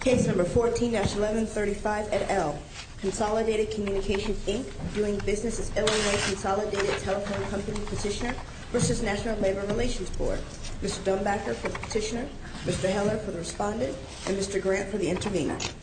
Case number 14-1135 at L. Consolidated Communications, Inc. Viewing business as Illinois Consolidated Telephone Company Petitioner v. National Labor Relations Board. Mr. Dumbacker for the petitioner, Mr. Heller for the respondent, and Mr. Grant for the intervener. Mr. Dumbacker.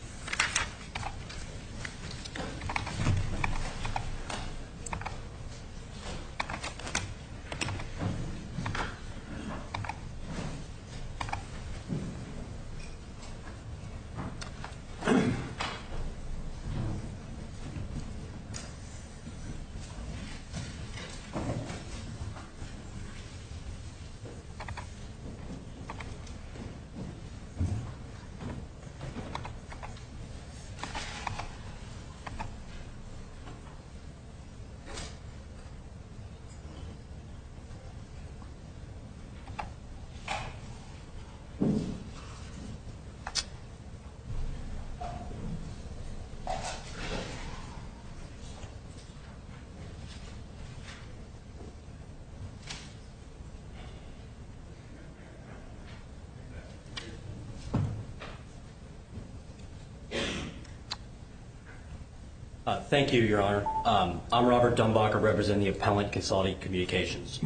Thank you, Your Honor. I'm Robert Dumbacker representing the appellant at Consolidated Communications.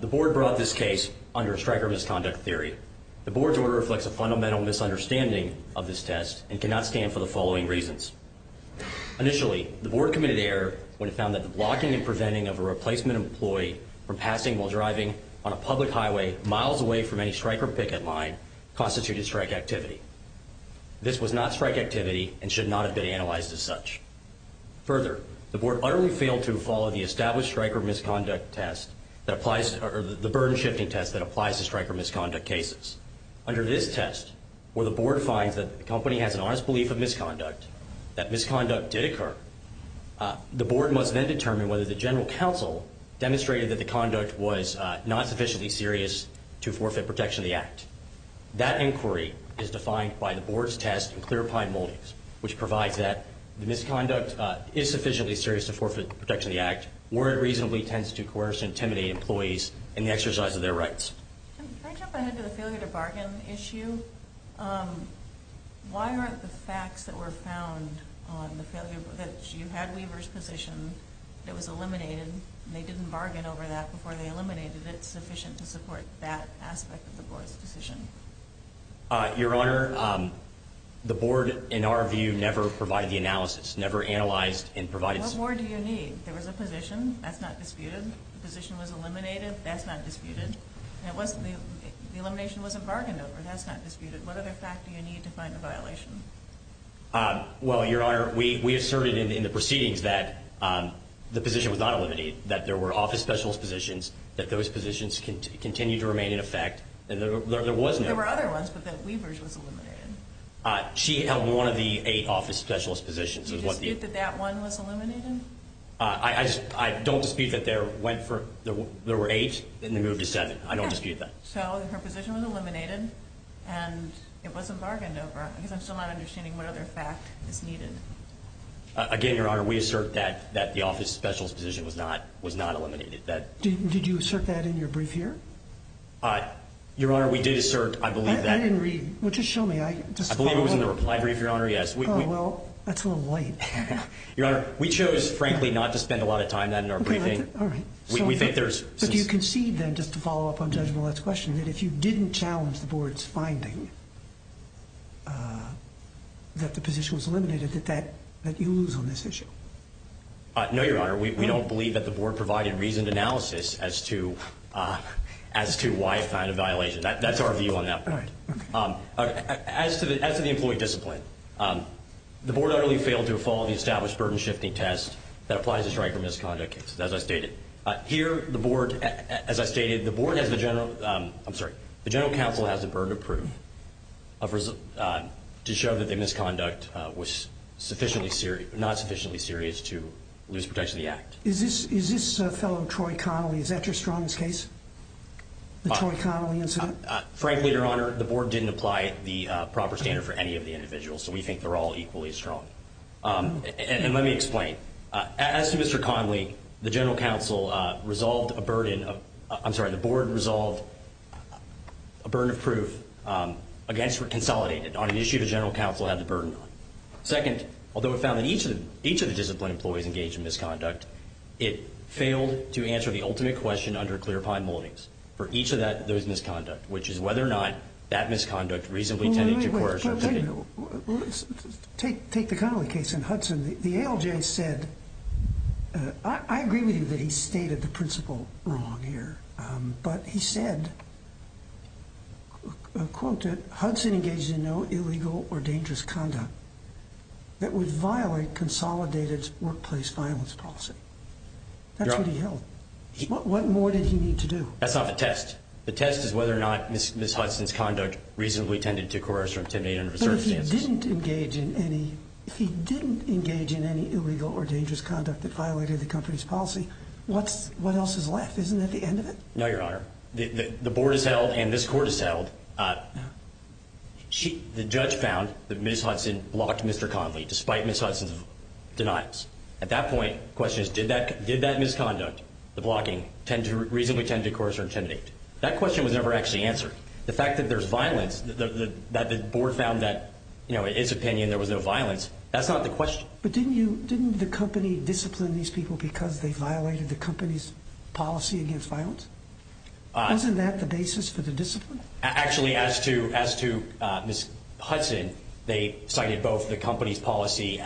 The board brought this case under striker misconduct theory. The board's order reflects a fundamental misunderstanding of this test and cannot stand for the following reasons. Initially, the board committed error when it found that the blocking and preventing of a replacement employee from passing while driving on a public highway miles away from any striker picket line constituted strike activity. This was not strike activity and should not have been analyzed as such. Further, the board utterly failed to follow the established striker misconduct test that applies or the burden shifting test that applies to striker misconduct cases. Under this test, where the board finds that the company has an honest belief of misconduct, that misconduct did occur, the board must then determine whether the general counsel demonstrated that the conduct was not sufficiently serious to forfeit protection of the act. That inquiry is defined by the board's test in clear pine moldings, which provides that the misconduct is sufficiently serious to forfeit protection of the act where it reasonably tends to coerce and intimidate employees in the exercise of their rights. Can I jump ahead to the failure to bargain issue? Why aren't the facts that were found on the failure that you had Weaver's position that was eliminated and they didn't bargain over that before they eliminated it sufficient to support that aspect of the board's decision? Your Honor, the board, in our view, never provided the analysis, never analyzed and provided. What more do you need? There was a position that's not disputed. The position was eliminated. That's not disputed. It wasn't. The elimination was a bargain over. That's not disputed. What other fact do you need to find a violation? Well, Your Honor, we asserted in the proceedings that the position was not eliminated, that there were office specialist positions, that those positions continue to remain in effect. There was no. There were other ones, but that Weaver's was eliminated. She held one of the eight office specialist positions. Do you dispute that that one was eliminated? I don't dispute that there were eight and they moved to seven. I don't dispute that. So her position was eliminated, and it wasn't bargained over. I guess I'm still not understanding what other fact is needed. Again, Your Honor, we assert that the office specialist position was not eliminated. Did you assert that in your brief here? Your Honor, we did assert, I believe, that. I didn't read. Well, just show me. I believe it was in the reply brief, Your Honor. Yes. Oh, well, that's a little late. Your Honor, we chose, frankly, not to spend a lot of time on that in our briefing. All right. But do you concede then, just to follow up on Judge Millett's question, that if you didn't challenge the board's finding that the position was eliminated, that you lose on this issue? No, Your Honor. We don't believe that the board provided reasoned analysis as to why it found a violation. That's our view on that point. All right. Okay. As to the employee discipline, the board utterly failed to follow the established burden-shifting test that applies to strike or misconduct cases, as I stated. Here, the board, as I stated, the board has the general, I'm sorry, the general counsel has the burden of proof to show that the misconduct was sufficiently serious, to lose protection of the act. Is this fellow Troy Connolly, is that your strongest case, the Troy Connolly incident? Frankly, Your Honor, the board didn't apply the proper standard for any of the individuals, so we think they're all equally strong. And let me explain. As to Mr. Connolly, the general counsel resolved a burden of, I'm sorry, the board resolved a burden of proof against or consolidated on an issue the general counsel had the burden on. Second, although it found that each of the discipline employees engaged in misconduct, it failed to answer the ultimate question under clear pine moldings for each of those misconducts, which is whether or not that misconduct reasonably tended to coercion. Take the Connolly case and Hudson. The ALJ said, I agree with you that he stated the principle wrong here, but he said, quote, Hudson engaged in no illegal or dangerous conduct that would violate consolidated workplace violence policy. That's what he held. What more did he need to do? That's not the test. The test is whether or not Ms. Hudson's conduct reasonably tended to coerce or intimidate under the circumstances. But if he didn't engage in any illegal or dangerous conduct that violated the company's policy, what else is left? Isn't that the end of it? No, Your Honor. The board has held and this court has held, the judge found that Ms. Hudson blocked Mr. Connolly, despite Ms. Hudson's denials. At that point, the question is, did that misconduct, the blocking, reasonably tend to coerce or intimidate? That question was never actually answered. The fact that there's violence, that the board found that in its opinion there was no violence, that's not the question. But didn't the company discipline these people because they violated the company's policy against violence? Wasn't that the basis for the discipline? Actually, as to Ms. Hudson, they cited both the company's policy,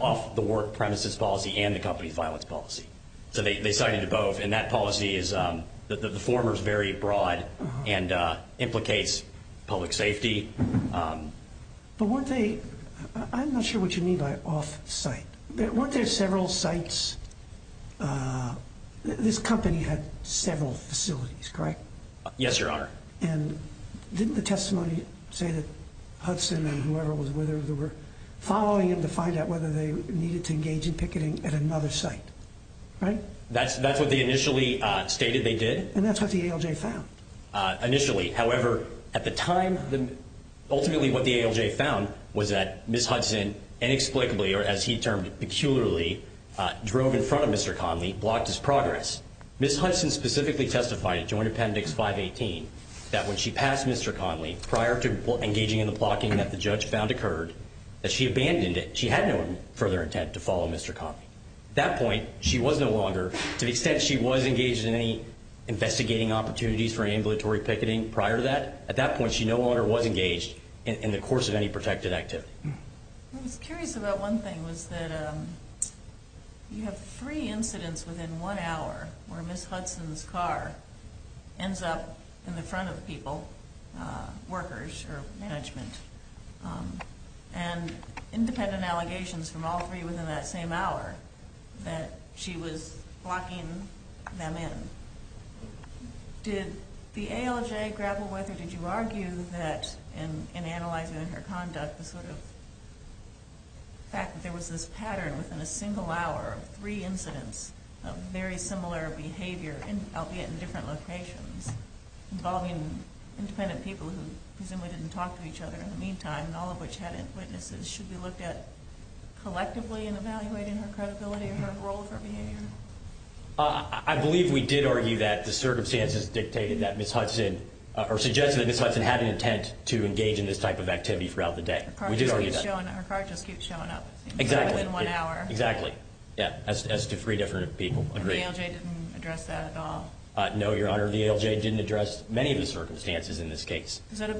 off-the-work premises policy, and the company's violence policy. So they cited both, and that policy is the former is very broad and implicates public safety. But weren't they, I'm not sure what you mean by off-site. Weren't there several sites, this company had several facilities, correct? Yes, Your Honor. And didn't the testimony say that Hudson and whoever was with her, they were following him to find out whether they needed to engage in picketing at another site, right? That's what they initially stated they did. And that's what the ALJ found. Initially, however, at the time, ultimately what the ALJ found was that Ms. Hudson inexplicably, or as he termed it, peculiarly, drove in front of Mr. Conley, blocked his progress. Ms. Hudson specifically testified at Joint Appendix 518 that when she passed Mr. Conley, prior to engaging in the blocking that the judge found occurred, that she abandoned it. She had no further intent to follow Mr. Conley. At that point, she was no longer, to the extent she was engaged in any investigating opportunities for ambulatory picketing prior to that, at that point she no longer was engaged in the course of any protected activity. I was curious about one thing, was that you have three incidents within one hour where Ms. Hudson's car ends up in the front of people, workers or management, and independent allegations from all three within that same hour that she was blocking them in. Did the ALJ grapple with, or did you argue that in analyzing her conduct, the sort of fact that there was this pattern within a single hour of three incidents of very similar behavior, albeit in different locations, involving independent people who presumably didn't talk to each other in the meantime, and all of which had witnesses, should be looked at collectively in evaluating her credibility and her role, her behavior? I believe we did argue that the circumstances dictated that Ms. Hudson, or suggested that Ms. Hudson had an intent to engage in this type of activity throughout the day. Her car just keeps showing up within one hour. Exactly, yeah, as do three different people. And the ALJ didn't address that at all? No, Your Honor, the ALJ didn't address many of the circumstances in this case. Does that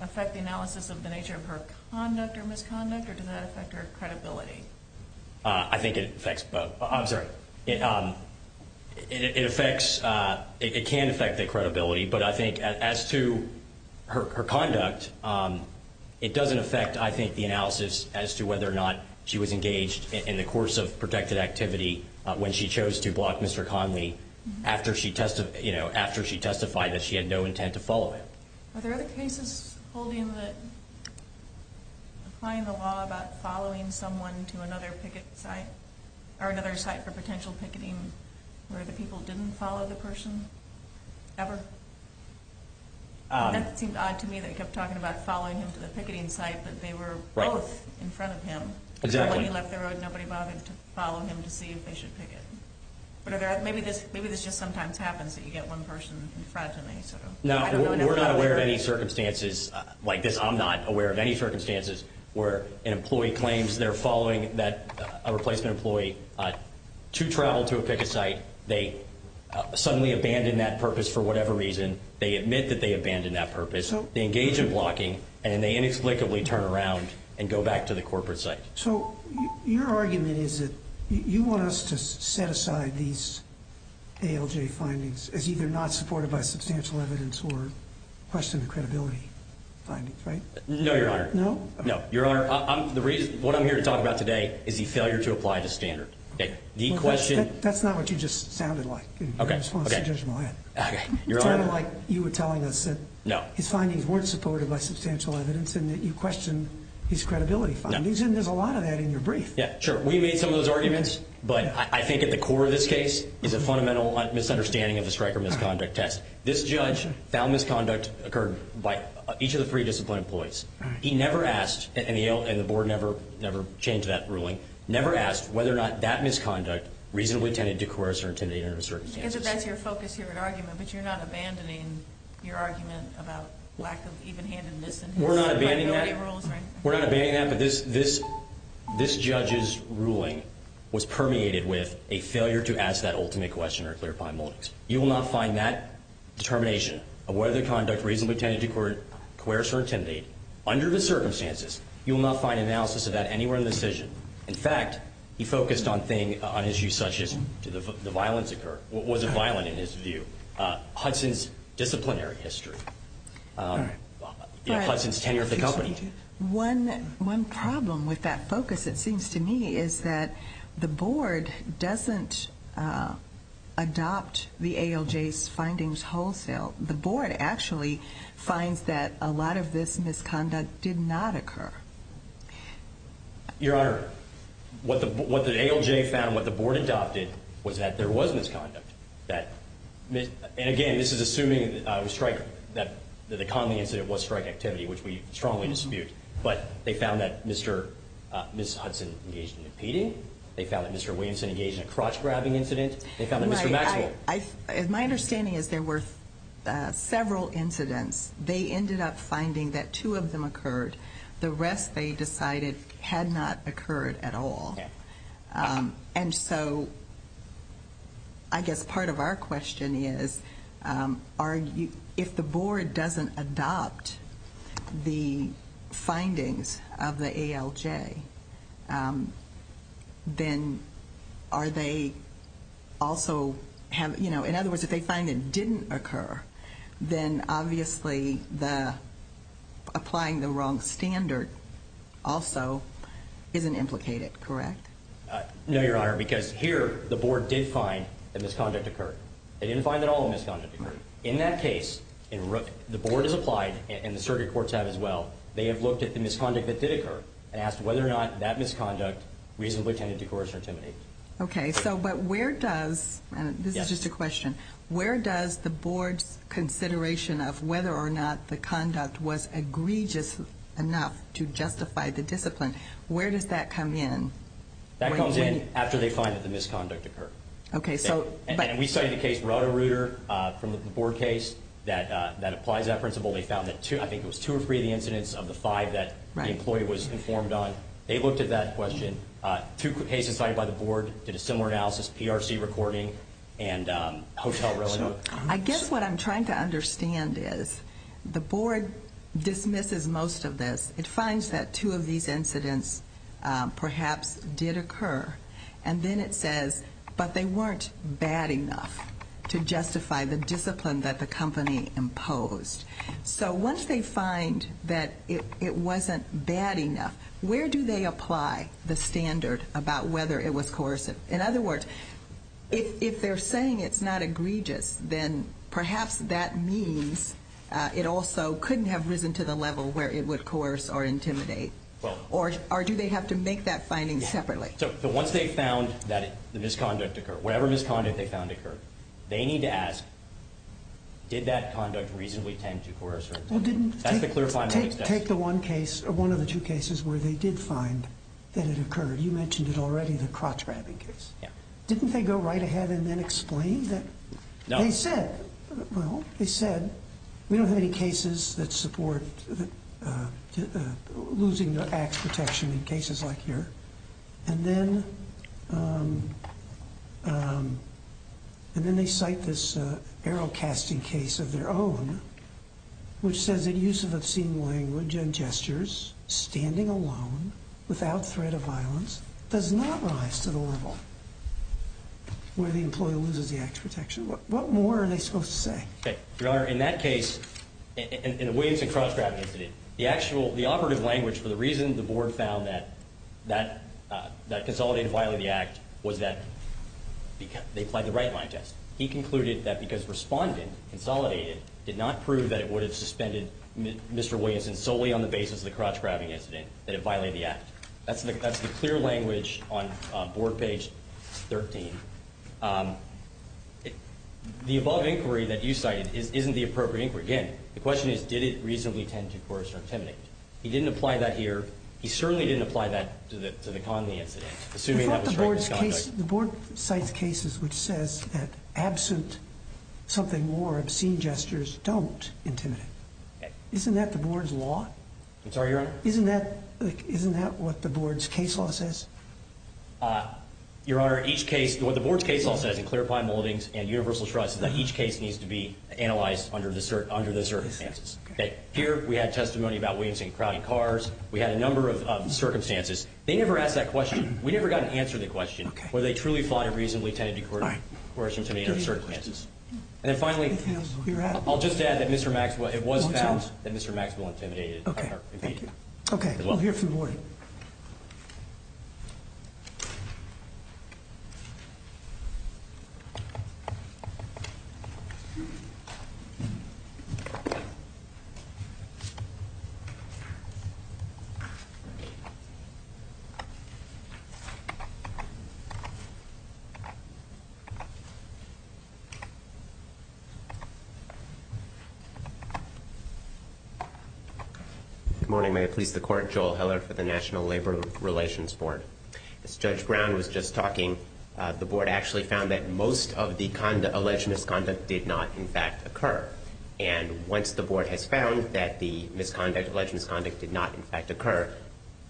affect the analysis of the nature of her conduct or misconduct, or does that affect her credibility? I think it affects both. I'm sorry. It affects, it can affect the credibility, but I think as to her conduct, it doesn't affect, I think, the analysis as to whether or not she was engaged in the course of protected activity when she chose to block Mr. Conley after she testified that she had no intent to follow him. Are there other cases holding that, applying the law about following someone to another picket site, or another site for potential picketing where the people didn't follow the person ever? That seemed odd to me, that he kept talking about following him to the picketing site, but they were both in front of him. Exactly. When he left the road, nobody bothered to follow him to see if they should picket. But are there, maybe this just sometimes happens, that you get one person in front and they sort of, I don't know. No, we're not aware of any circumstances like this. I'm not aware of any circumstances where an employee claims they're following a replacement employee to travel to a picket site. They suddenly abandon that purpose for whatever reason. They admit that they abandon that purpose. They engage in blocking, and then they inexplicably turn around and go back to the corporate site. So your argument is that you want us to set aside these ALJ findings as either not supported by substantial evidence or question the credibility findings, right? No, Your Honor. No? No. Your Honor, what I'm here to talk about today is the failure to apply the standard. That's not what you just sounded like in response to Judge Millett. Okay, Your Honor. It sounded like you were telling us that his findings weren't supported by substantial evidence and that you questioned his credibility findings, and there's a lot of that in your brief. Yeah, sure. We made some of those arguments, but I think at the core of this case is a fundamental misunderstanding of the strike or misconduct test. This judge found misconduct occurred by each of the three disciplined employees. He never asked, and the board never changed that ruling, never asked whether or not that misconduct reasonably tended to coerce or intimidate under the circumstances. I guess if that's your focus, your argument, but you're not abandoning your argument about lack of even-handedness in his credibility rules, right? We're not abandoning that, but this judge's ruling was permeated with a failure to ask that ultimate question or clarify moments. You will not find that determination of whether the conduct reasonably tended to coerce or intimidate under the circumstances. You will not find analysis of that anywhere in the decision. In fact, he focused on things, on issues such as did the violence occur, was it violent in his view, Hudson's disciplinary history, Hudson's tenure at the company. One problem with that focus, it seems to me, is that the board doesn't adopt the ALJ's findings wholesale. The board actually finds that a lot of this misconduct did not occur. Your Honor, what the ALJ found, what the board adopted, was that there was misconduct. And again, this is assuming that the Connelly incident was strike activity, which we strongly dispute. But they found that Ms. Hudson engaged in impeding. They found that Mr. Williamson engaged in a crotch-grabbing incident. My understanding is there were several incidents. They ended up finding that two of them occurred. The rest, they decided, had not occurred at all. And so, I guess part of our question is, if the board doesn't adopt the findings of the ALJ, then are they also... No, Your Honor, because here, the board did find that misconduct occurred. They didn't find that all the misconduct occurred. In that case, the board has applied, and the circuit courts have as well. They have looked at the misconduct that did occur and asked whether or not that misconduct reasonably tended to coerce or intimidate. Okay, so but where does, and this is just a question, where does the board's consideration of whether or not the conduct was egregious enough to justify the discipline, where does that come in? That comes in after they find that the misconduct occurred. Okay, so but... And we studied the case Roto-Rooter from the board case that applies that principle. They found that two, I think it was two or three of the incidents of the five that the employee was informed on. They looked at that question. Two cases cited by the board did a similar analysis, PRC recording and Hotel Relinook. I guess what I'm trying to understand is the board dismisses most of this. It finds that two of these incidents perhaps did occur, and then it says, but they weren't bad enough to justify the discipline that the company imposed. So once they find that it wasn't bad enough, where do they apply the standard about whether it was coercive? In other words, if they're saying it's not egregious, then perhaps that means it also couldn't have risen to the level where it would coerce or intimidate. Or do they have to make that finding separately? So once they found that the misconduct occurred, whatever misconduct they found occurred, they need to ask, did that conduct reasonably tend to coerce or intimidate? That's the clarifying... Take the one case, or one of the two cases where they did find that it occurred. You mentioned it already, the crotch-grabbing case. Yeah. Didn't they go right ahead and then explain that? No. They said, well, they said, we don't have any cases that support losing the axe protection in cases like here. And then they cite this arrow-casting case of their own, which says that use of obscene language and gestures, standing alone, without threat of violence, does not rise to the level where the employee loses the axe protection. What more are they supposed to say? Your Honor, in that case, in the Williamson crotch-grabbing incident, the operative language for the reason the board found that Consolidated violated the act was that they applied the right-line test. He concluded that because Respondent, Consolidated, did not prove that it would have suspended Mr. Williamson solely on the basis of the crotch-grabbing incident, that it violated the act. That's the clear language on board page 13. The above inquiry that you cited isn't the appropriate inquiry. Again, the question is, did it reasonably tend to coerce or intimidate? He didn't apply that here. He certainly didn't apply that to the Conley incident, assuming that was right in this context. The board cites cases which says that, absent something more, obscene gestures don't intimidate. Isn't that the board's law? I'm sorry, Your Honor? Isn't that what the board's case law says? Your Honor, each case, what the board's case law says in Clarifying Holdings and Universal Trust, is that each case needs to be analyzed under the circumstances. Here, we had testimony about Williamson crowding cars. We had a number of circumstances. They never asked that question. We never got an answer to the question, whether they truly, thought it reasonably tended to coerce or intimidate under the circumstances. And then finally, I'll just add that Mr. Maxwell, it was found that Mr. Maxwell intimidated. Okay, we'll hear from the board. Thank you. Good morning. May it please the Court. Joel Heller for the National Labor Relations Board. As Judge Brown was just talking, the board actually found that most of the alleged misconduct did not, in fact, occur. And once the board has found that the misconduct, alleged misconduct, did not, in fact, occur,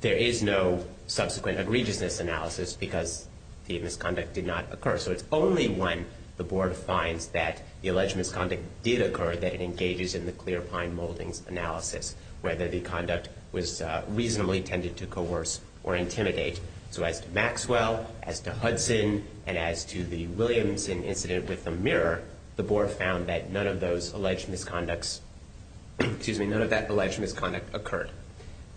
there is no subsequent egregiousness analysis because the misconduct did not occur. So it's only when the board finds that the alleged misconduct did occur that it engages in the Clear Pine Holdings analysis, whether the conduct was reasonably tended to coerce or intimidate. So as to Maxwell, as to Hudson, and as to the Williamson incident with the mirror, the board found that none of those alleged misconducts, excuse me, none of that alleged misconduct occurred.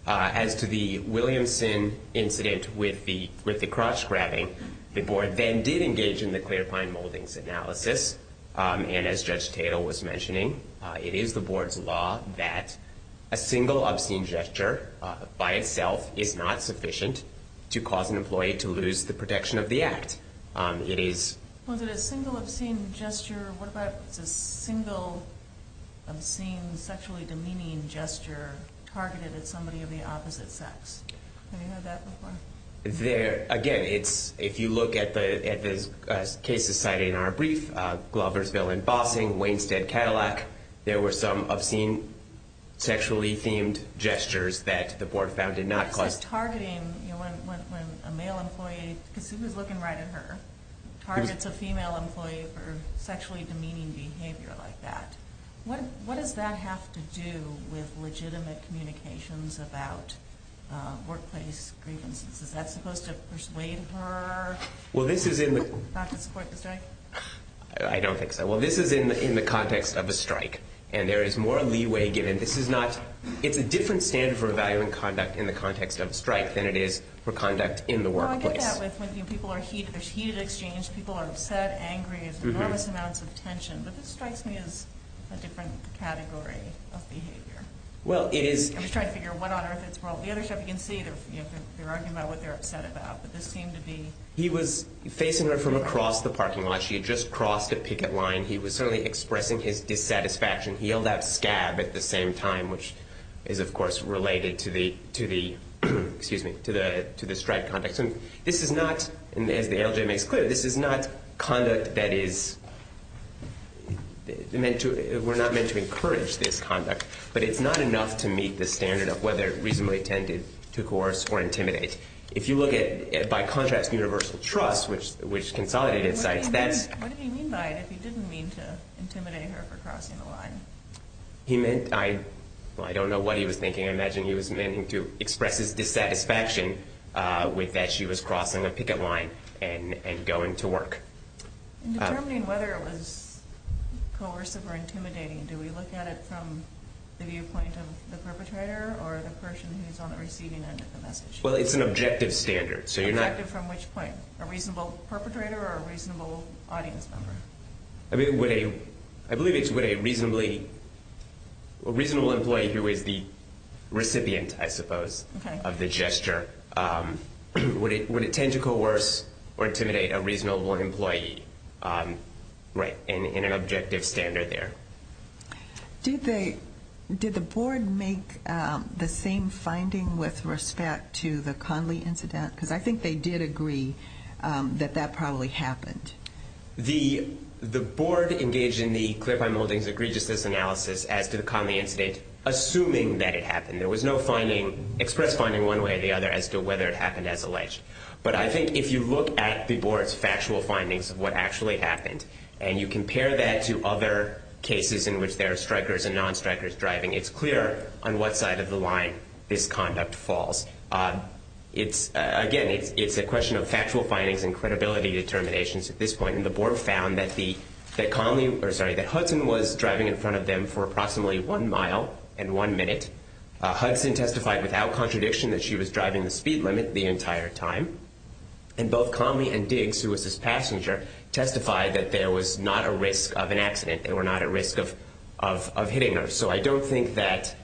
As to the Williamson incident with the cross-grabbing, the board then did engage in the Clear Pine Holdings analysis. And as Judge Tatel was mentioning, it is the board's law that a single obscene gesture by itself is not sufficient to cause an employee to lose the protection of the act. Was it a single obscene gesture? What about a single obscene sexually demeaning gesture targeted at somebody of the opposite sex? Have you heard that before? Again, if you look at the case society in our brief, Gloversville and Bossing, Wainstead-Cadillac, there were some obscene sexually themed gestures that the board found did not cause... Is that supposed to persuade her not to support the strike? I don't think so. Well, this is in the context of a strike. And there is more leeway given. This is not... It's a different standard for evaluating conduct in the context of a strike than it is for conduct in the workplace. Well, I get that. People are heated. There's heated exchange. People are upset, angry. There's enormous amounts of tension. But this strikes me as a different category of behavior. Well, it is... I'm just trying to figure out what on earth is wrong. Well, the other stuff you can see, they're arguing about what they're upset about. But this seemed to be... He was facing her from across the parking lot. She had just crossed a picket line. He was certainly expressing his dissatisfaction. He yelled out, scab, at the same time, which is, of course, related to the strike context. And this is not, as the ALJ makes clear, this is not conduct that is meant to... We're not meant to encourage this conduct. But it's not enough to meet the standard of whether it reasonably tended to coerce or intimidate. If you look at, by contrast, universal trust, which consolidated sites, that's... What did he mean by it if he didn't mean to intimidate her for crossing the line? He meant, I don't know what he was thinking. I imagine he was meaning to express his dissatisfaction with that she was crossing a picket line and going to work. In determining whether it was coercive or intimidating, do we look at it from the viewpoint of the perpetrator or the person who's on the receiving end of the message? Well, it's an objective standard, so you're not... Objective from which point? A reasonable perpetrator or a reasonable audience member? I believe it's with a reasonably... A reasonable employee who is the recipient, I suppose, of the gesture. Would it tend to coerce or intimidate a reasonable employee? Right, in an objective standard there. Did the board make the same finding with respect to the Conley incident? Because I think they did agree that that probably happened. The board engaged in the clarifying holdings egregiousness analysis as to the Conley incident, assuming that it happened. There was no express finding one way or the other as to whether it happened as alleged. But I think if you look at the board's factual findings of what actually happened, and you compare that to other cases in which there are strikers and non-strikers driving, it's clear on what side of the line this conduct falls. Again, it's a question of factual findings and credibility determinations at this point. And the board found that Hudson was driving in front of them for approximately one mile and one minute. Hudson testified without contradiction that she was driving the speed limit the entire time. And both Conley and Diggs, who was this passenger, testified that there was not a risk of an accident. They were not at risk of hitting her. So I don't think that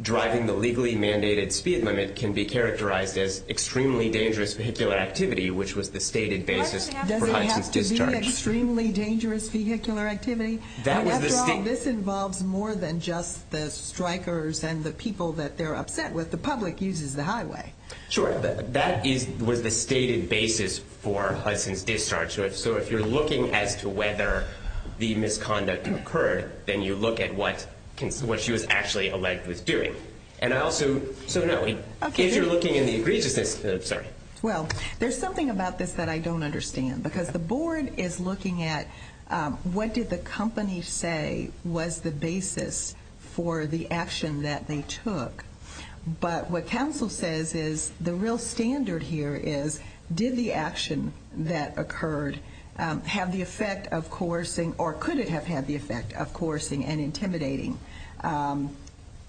driving the legally mandated speed limit can be characterized as extremely dangerous vehicular activity, which was the stated basis for Hudson's discharge. Doesn't it have to be extremely dangerous vehicular activity? After all, this involves more than just the strikers and the people that they're upset with. The public uses the highway. Sure. That was the stated basis for Hudson's discharge. So if you're looking as to whether the misconduct occurred, then you look at what she was actually alleged was doing. And also, so no, if you're looking in the egregiousness, sorry. Well, there's something about this that I don't understand, because the board is looking at what did the company say was the basis for the action that they took. But what counsel says is the real standard here is did the action that occurred have the effect of coercing or could it have had the effect of coercing and intimidating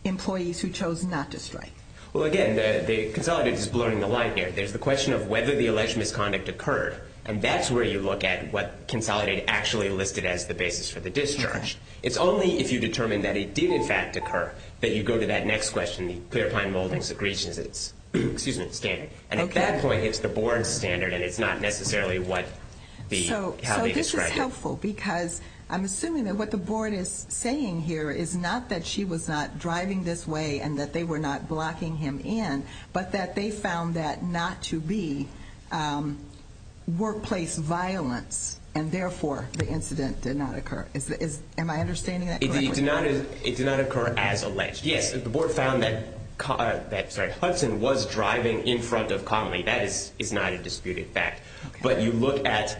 employees who chose not to strike? Well, again, Consolidate is blurring the line here. There's the question of whether the alleged misconduct occurred, and that's where you look at what Consolidate actually listed as the basis for the discharge. It's only if you determine that it did, in fact, occur that you go to that next question, the clear-planned moldings, egregiousness, excuse me, standard. And at that point, it's the board's standard, and it's not necessarily how they described it. So this is helpful, because I'm assuming that what the board is saying here is not that she was not driving this way and that they were not blocking him in, but that they found that not to be workplace violence, and therefore the incident did not occur. Am I understanding that correctly? It did not occur as alleged. Yes, the board found that Hudson was driving in front of Connolly. That is not a disputed fact. But you look at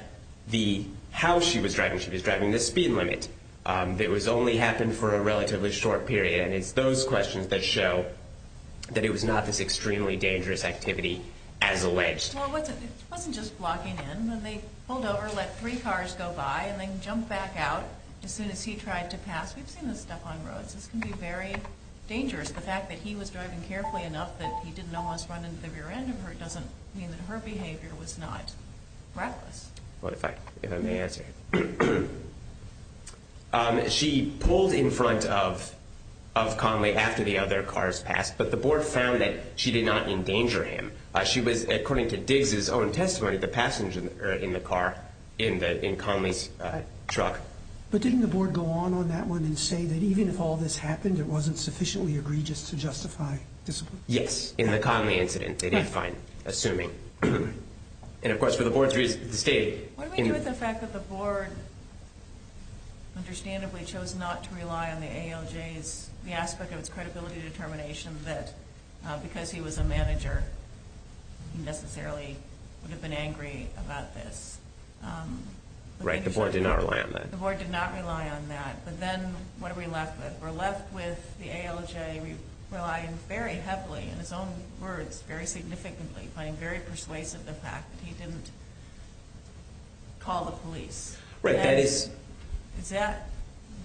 how she was driving. She was driving the speed limit. It only happened for a relatively short period, and it's those questions that show that it was not this extremely dangerous activity as alleged. Well, it wasn't just blocking in. When they pulled over, let three cars go by, and then jumped back out as soon as he tried to pass. We've seen this stuff on roads. This can be very dangerous. The fact that he was driving carefully enough that he didn't almost run into the rear end of her doesn't mean that her behavior was not reckless. Fine, if I may answer. She pulled in front of Connolly after the other cars passed, but the board found that she did not endanger him. She was, according to Diggs' own testimony, the passenger in the car, in Connolly's truck. But didn't the board go on on that one and say that even if all this happened, it wasn't sufficiently egregious to justify discipline? Yes, in the Connolly incident, they did find, assuming. And, of course, for the board's reason, the state. What do we do with the fact that the board, understandably, chose not to rely on the ALJ's, the aspect of its credibility determination that because he was a manager, he necessarily would have been angry about this? Right, the board did not rely on that. The board did not rely on that. But then what are we left with? We're left with the ALJ relying very heavily, in his own words, very significantly, relying very persuasively on the fact that he didn't call the police. Right, that is.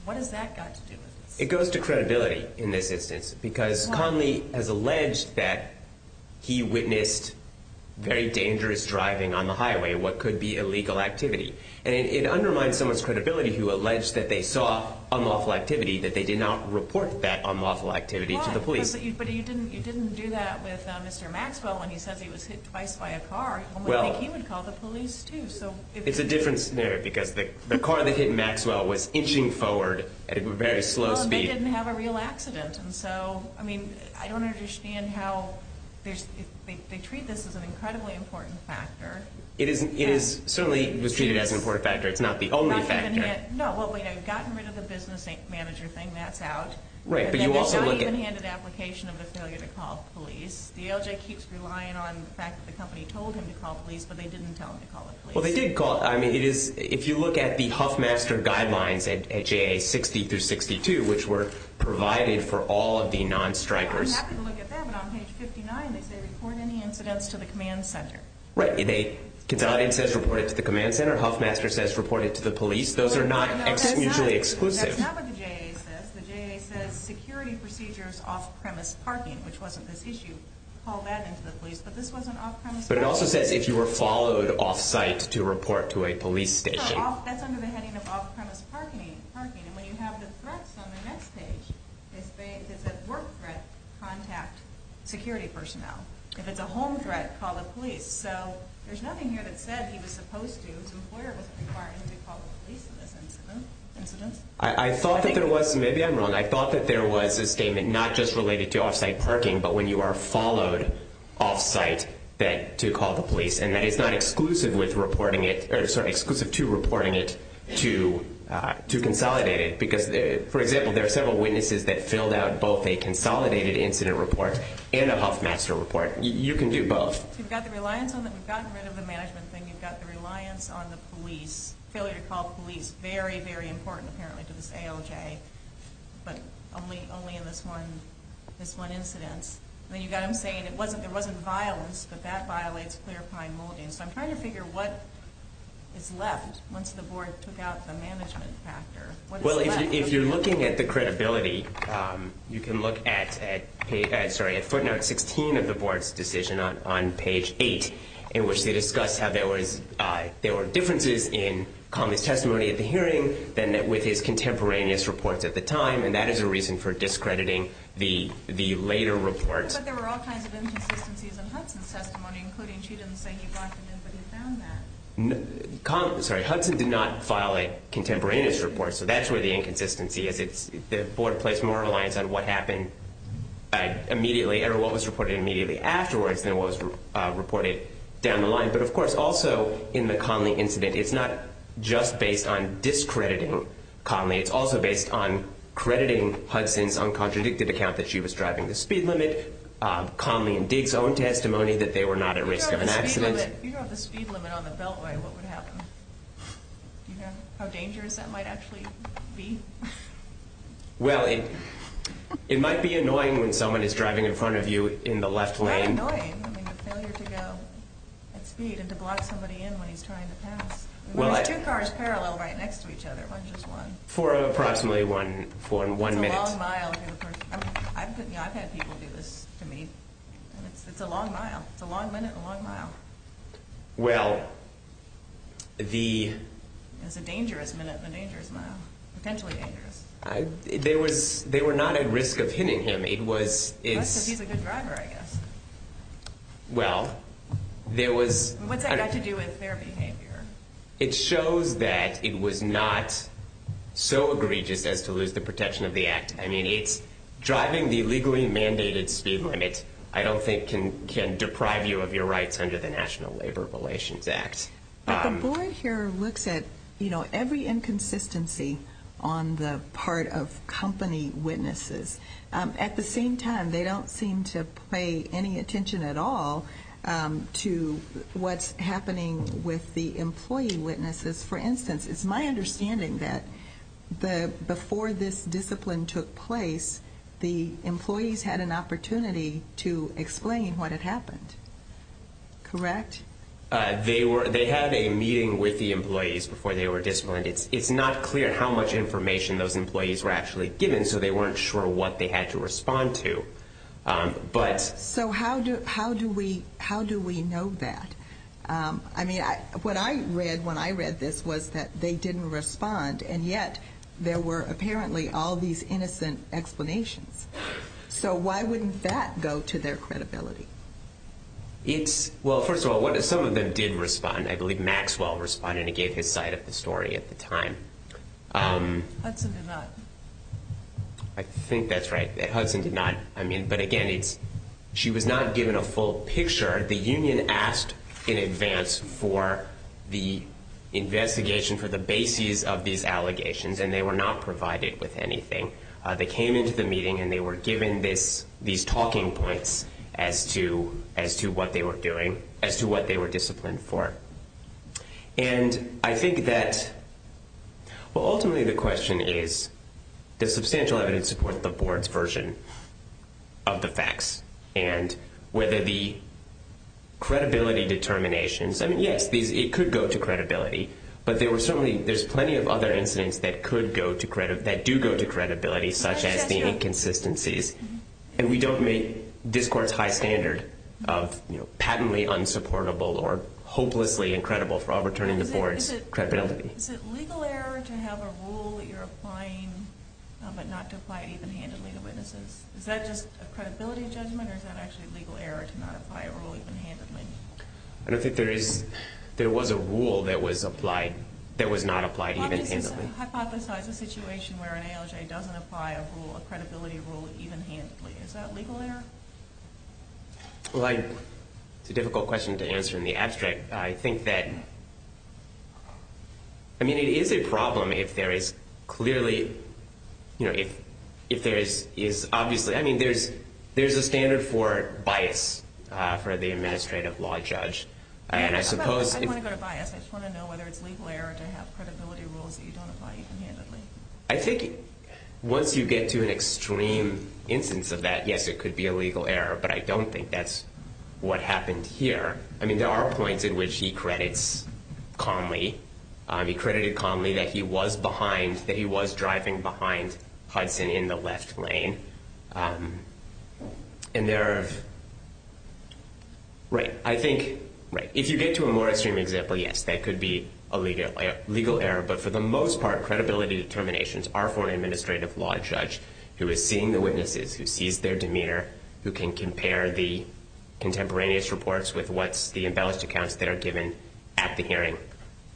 What has that got to do with this? It goes to credibility in this instance because Connolly has alleged that he witnessed very dangerous driving on the highway, what could be illegal activity. And it undermines someone's credibility who alleged that they saw unlawful activity, that they did not report that unlawful activity to the police. But you didn't do that with Mr. Maxwell when he says he was hit twice by a car. One would think he would call the police too. It's a different scenario because the car that hit Maxwell was inching forward at a very slow speed. Well, and they didn't have a real accident. And so, I mean, I don't understand how they treat this as an incredibly important factor. It certainly was treated as an important factor. It's not the only factor. No, well, they've gotten rid of the business manager thing, that's out. Right, but you also look at- There's not even an application of the failure to call the police. The ALJ keeps relying on the fact that the company told him to call the police, but they didn't tell him to call the police. Well, they did call. I mean, if you look at the Huffmaster guidelines at JA 60 through 62, which were provided for all of the non-strikers- I'm happy to look at that, but on page 59 they say, report any incidents to the command center. Right. Consolidated says report it to the command center. Huffmaster says report it to the police. Those are not usually exclusive. That's not what the JA says. The JA says security procedures off-premise parking, which wasn't this issue, call that into the police. But this wasn't off-premise parking. But it also says if you were followed off-site to report to a police station. That's under the heading of off-premise parking. And when you have the threats on the next page, is it work threat, contact security personnel. If it's a home threat, call the police. So there's nothing here that said he was supposed to. His employer wasn't requiring him to call the police in this incident. I thought that there was, maybe I'm wrong, I thought that there was a statement not just related to off-site parking, but when you are followed off-site to call the police. And that is not exclusive to reporting it to consolidated. Because, for example, there are several witnesses that filled out both a consolidated incident report and a Huffmaster report. You can do both. We've gotten rid of the management thing. You've got the reliance on the police. Failure to call the police. Very, very important, apparently, to this ALJ. But only in this one incidence. And then you've got him saying there wasn't violence, but that violates clear pine molding. So I'm trying to figure what is left once the board took out the management factor. What is left? Well, if you're looking at the credibility, you can look at footnote 16 of the board's decision on page 8, in which they discuss how there were differences in Conley's testimony at the hearing than with his contemporaneous reports at the time, and that is a reason for discrediting the later reports. But there were all kinds of inconsistencies in Hudson's testimony, including she didn't say he brought it in, but he found that. Sorry, Hudson did not file a contemporaneous report, so that's where the inconsistency is. The board placed more reliance on what happened immediately or what was reported immediately afterwards than what was reported down the line. But, of course, also in the Conley incident, it's not just based on discrediting Conley. It's also based on crediting Hudson's uncontradicted account that she was driving the speed limit, Conley and Diggs' own testimony that they were not at risk of an accident. If you drove the speed limit on the Beltway, what would happen? How dangerous that might actually be? Well, it might be annoying when someone is driving in front of you in the left lane. Not annoying. I mean, the failure to go at speed and to block somebody in when he's trying to pass. There's two cars parallel right next to each other, not just one. For approximately one minute. It's a long mile. I've had people do this to me. It's a long mile. It's a long minute and a long mile. Well, the... It's a dangerous minute and a dangerous mile. Potentially dangerous. They were not at risk of hitting him. It was... That's because he's a good driver, I guess. Well, there was... What's that got to do with their behavior? It shows that it was not so egregious as to lose the protection of the act. I mean, it's driving the legally mandated speed limit, I don't think, can deprive you of your rights under the National Labor Relations Act. But the board here looks at every inconsistency on the part of company witnesses. At the same time, they don't seem to pay any attention at all to what's happening with the employee witnesses. For instance, it's my understanding that before this discipline took place, the employees had an opportunity to explain what had happened. Correct? They had a meeting with the employees before they were disciplined. It's not clear how much information those employees were actually given, so they weren't sure what they had to respond to. But... So how do we know that? I mean, what I read when I read this was that they didn't respond, and yet there were apparently all these innocent explanations. So why wouldn't that go to their credibility? Well, first of all, some of them did respond. I believe Maxwell responded and gave his side of the story at the time. Hudson did not. I think that's right. Hudson did not. But again, she was not given a full picture. The union asked in advance for the investigation for the basis of these allegations, and they were not provided with anything. They came into the meeting, and they were given these talking points as to what they were doing, as to what they were disciplined for. And I think that... Well, ultimately the question is, does substantial evidence support the board's version of the facts? And whether the credibility determinations... I mean, yes, it could go to credibility, but there's plenty of other incidents that do go to credibility, such as the inconsistencies. And we don't make this court's high standard of patently unsupportable or hopelessly incredible for overturning the board's credibility. Is it legal error to have a rule that you're applying but not to apply it even-handedly to witnesses? Is that just a credibility judgment, or is that actually legal error to not apply a rule even-handedly? I don't think there was a rule that was not applied even-handedly. How do you hypothesize a situation where an ALJ doesn't apply a rule, a credibility rule, even-handedly? Is that legal error? Well, it's a difficult question to answer in the abstract. I think that... I mean, it is a problem if there is clearly... You know, if there is obviously... for the administrative law judge, and I suppose... I didn't want to go to bias. I just want to know whether it's legal error to have credibility rules that you don't apply even-handedly. I think once you get to an extreme instance of that, yes, it could be a legal error, but I don't think that's what happened here. I mean, there are points in which he credits Conley. He credited Conley that he was behind, that he was driving behind Hudson in the left lane. And there are... Right, I think... If you get to a more extreme example, yes, that could be a legal error, but for the most part, credibility determinations are for an administrative law judge who is seeing the witnesses, who sees their demeanor, who can compare the contemporaneous reports with what's the embellished accounts that are given at the hearing,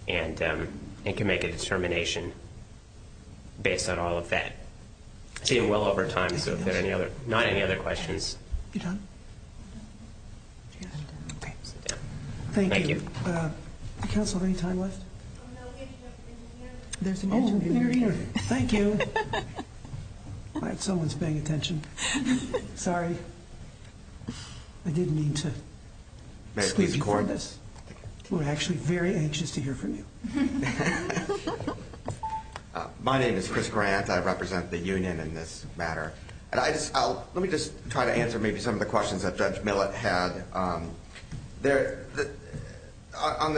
and can make a determination based on all of that. I'm seeing well over time, so if there are any other... Not any other questions. You're done? Okay, sit down. Thank you. Thank you. Council, any time left? There's an interviewer. Thank you. Someone's paying attention. Sorry. I didn't mean to squeeze you for this. May I please record? We're actually very anxious to hear from you. My name is Chris Grant. I represent the union in this matter. Let me just try to answer maybe some of the questions that Judge Millett had. On the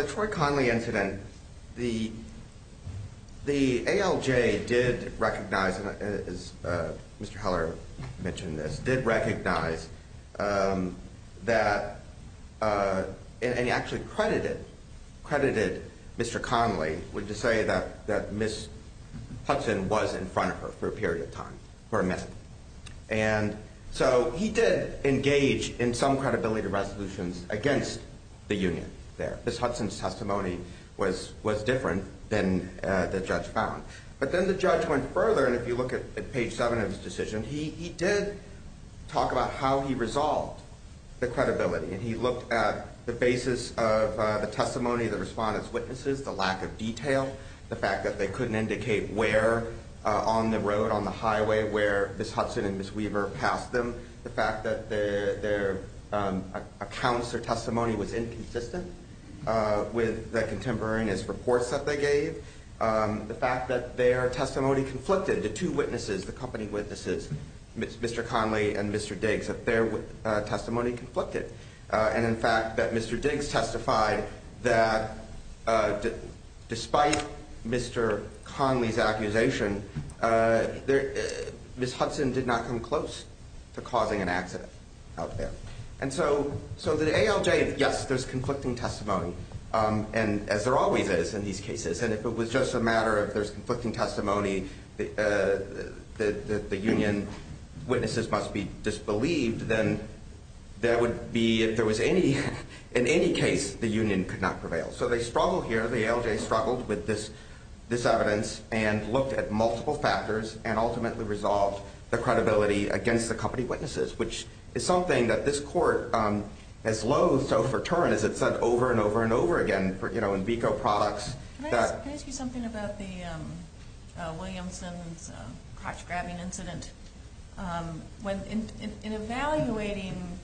Troy Conley incident, the ALJ did recognize, as Mr. Heller mentioned this, did recognize that... And he actually credited Mr. Conley, to say that Ms. Hudson was in front of her for a period of time, for a minute. And so he did engage in some credibility resolutions against the union there. Ms. Hudson's testimony was different than the judge found. But then the judge went further, and if you look at page 7 of his decision, he did talk about how he resolved the credibility. And he looked at the basis of the testimony of the respondents' witnesses, the lack of detail, the fact that they couldn't indicate where on the road, on the highway where Ms. Hudson and Ms. Weaver passed them, the fact that their accounts or testimony was inconsistent with the contemporaneous reports that they gave, the fact that their testimony conflicted. The two witnesses, the company witnesses, Mr. Conley and Mr. Diggs, the fact that their testimony conflicted. And in fact, that Mr. Diggs testified that despite Mr. Conley's accusation, Ms. Hudson did not come close to causing an accident out there. And so the ALJ, yes, there's conflicting testimony, as there always is in these cases. And if it was just a matter of there's conflicting testimony, the union witnesses must be disbelieved, then that would be if there was any, in any case, the union could not prevail. So they struggled here. The ALJ struggled with this evidence and looked at multiple factors and ultimately resolved the credibility against the company witnesses, which is something that this court has loathed so for Turin, as it's said over and over and over again in VICO products. Can I ask you something about the Williamson's crotch-grabbing incident? In evaluating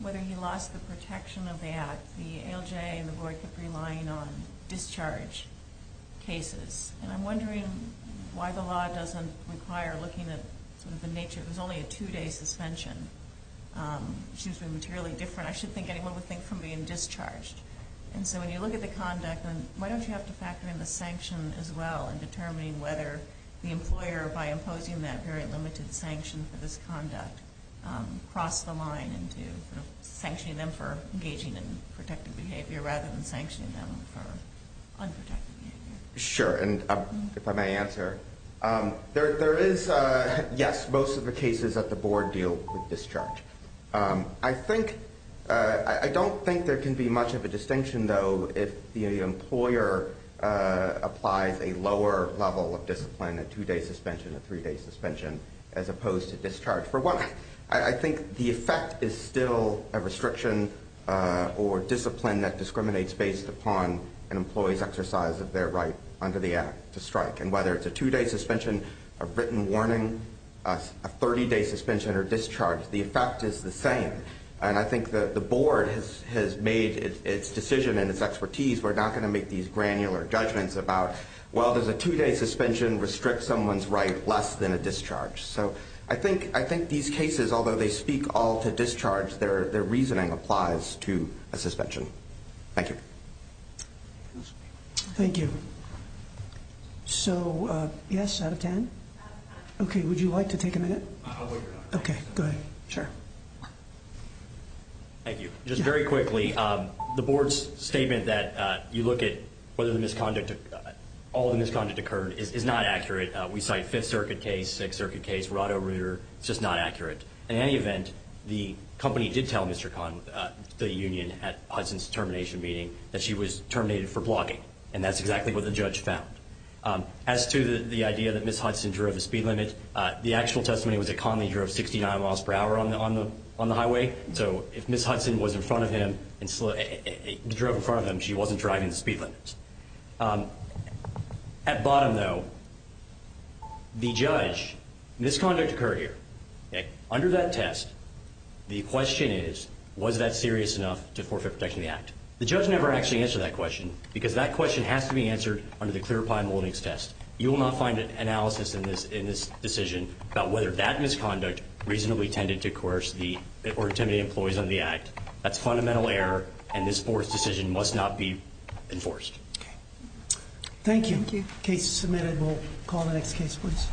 whether he lost the protection of the act, the ALJ and the board kept relying on discharge cases. And I'm wondering why the law doesn't require looking at sort of the nature. It was only a two-day suspension. It seems to be materially different. I shouldn't think anyone would think from being discharged. And so when you look at the conduct, why don't you have to factor in the sanction as well in determining whether the employer, by imposing that very limited sanction for this conduct, crossed the line into sanctioning them for engaging in protected behavior rather than sanctioning them for unprotected behavior? Sure. And if I may answer, there is, yes, most of the cases that the board deal with discharge. I don't think there can be much of a distinction, though, if the employer applies a lower level of discipline, a two-day suspension, a three-day suspension, as opposed to discharge. For one, I think the effect is still a restriction or discipline that discriminates based upon an employee's exercise of their right under the act to strike. And whether it's a two-day suspension, a written warning, a 30-day suspension, or discharge, the effect is the same. And I think the board has made its decision and its expertise. We're not going to make these granular judgments about, well, does a two-day suspension restrict someone's right less than a discharge? So I think these cases, although they speak all to discharge, their reasoning applies to a suspension. Thank you. Thank you. So, yes, out of 10? Okay, would you like to take a minute? Okay, go ahead. Sure. Thank you. Just very quickly, the board's statement that you look at whether all the misconduct occurred is not accurate. We cite Fifth Circuit case, Sixth Circuit case, Roto-Rooter. It's just not accurate. In any event, the company did tell Mr. Kahn, the union at Hudson's termination meeting, that she was terminated for blocking, and that's exactly what the judge found. As to the idea that Ms. Hudson drove the speed limit, the actual testimony was that Conley drove 69 miles per hour on the highway. So if Ms. Hudson was in front of him and drove in front of him, she wasn't driving the speed limit. At bottom, though, the judge, misconduct occurred here. Under that test, the question is, was that serious enough to forfeit protection of the act? The judge never actually answered that question because that question has to be answered under the clear pine holdings test. You will not find an analysis in this decision about whether that misconduct reasonably tended to coerce or intimidate employees under the act. That's fundamental error, and this fourth decision must not be enforced. Okay. Thank you. Thank you. Case submitted. We'll call the next case, please.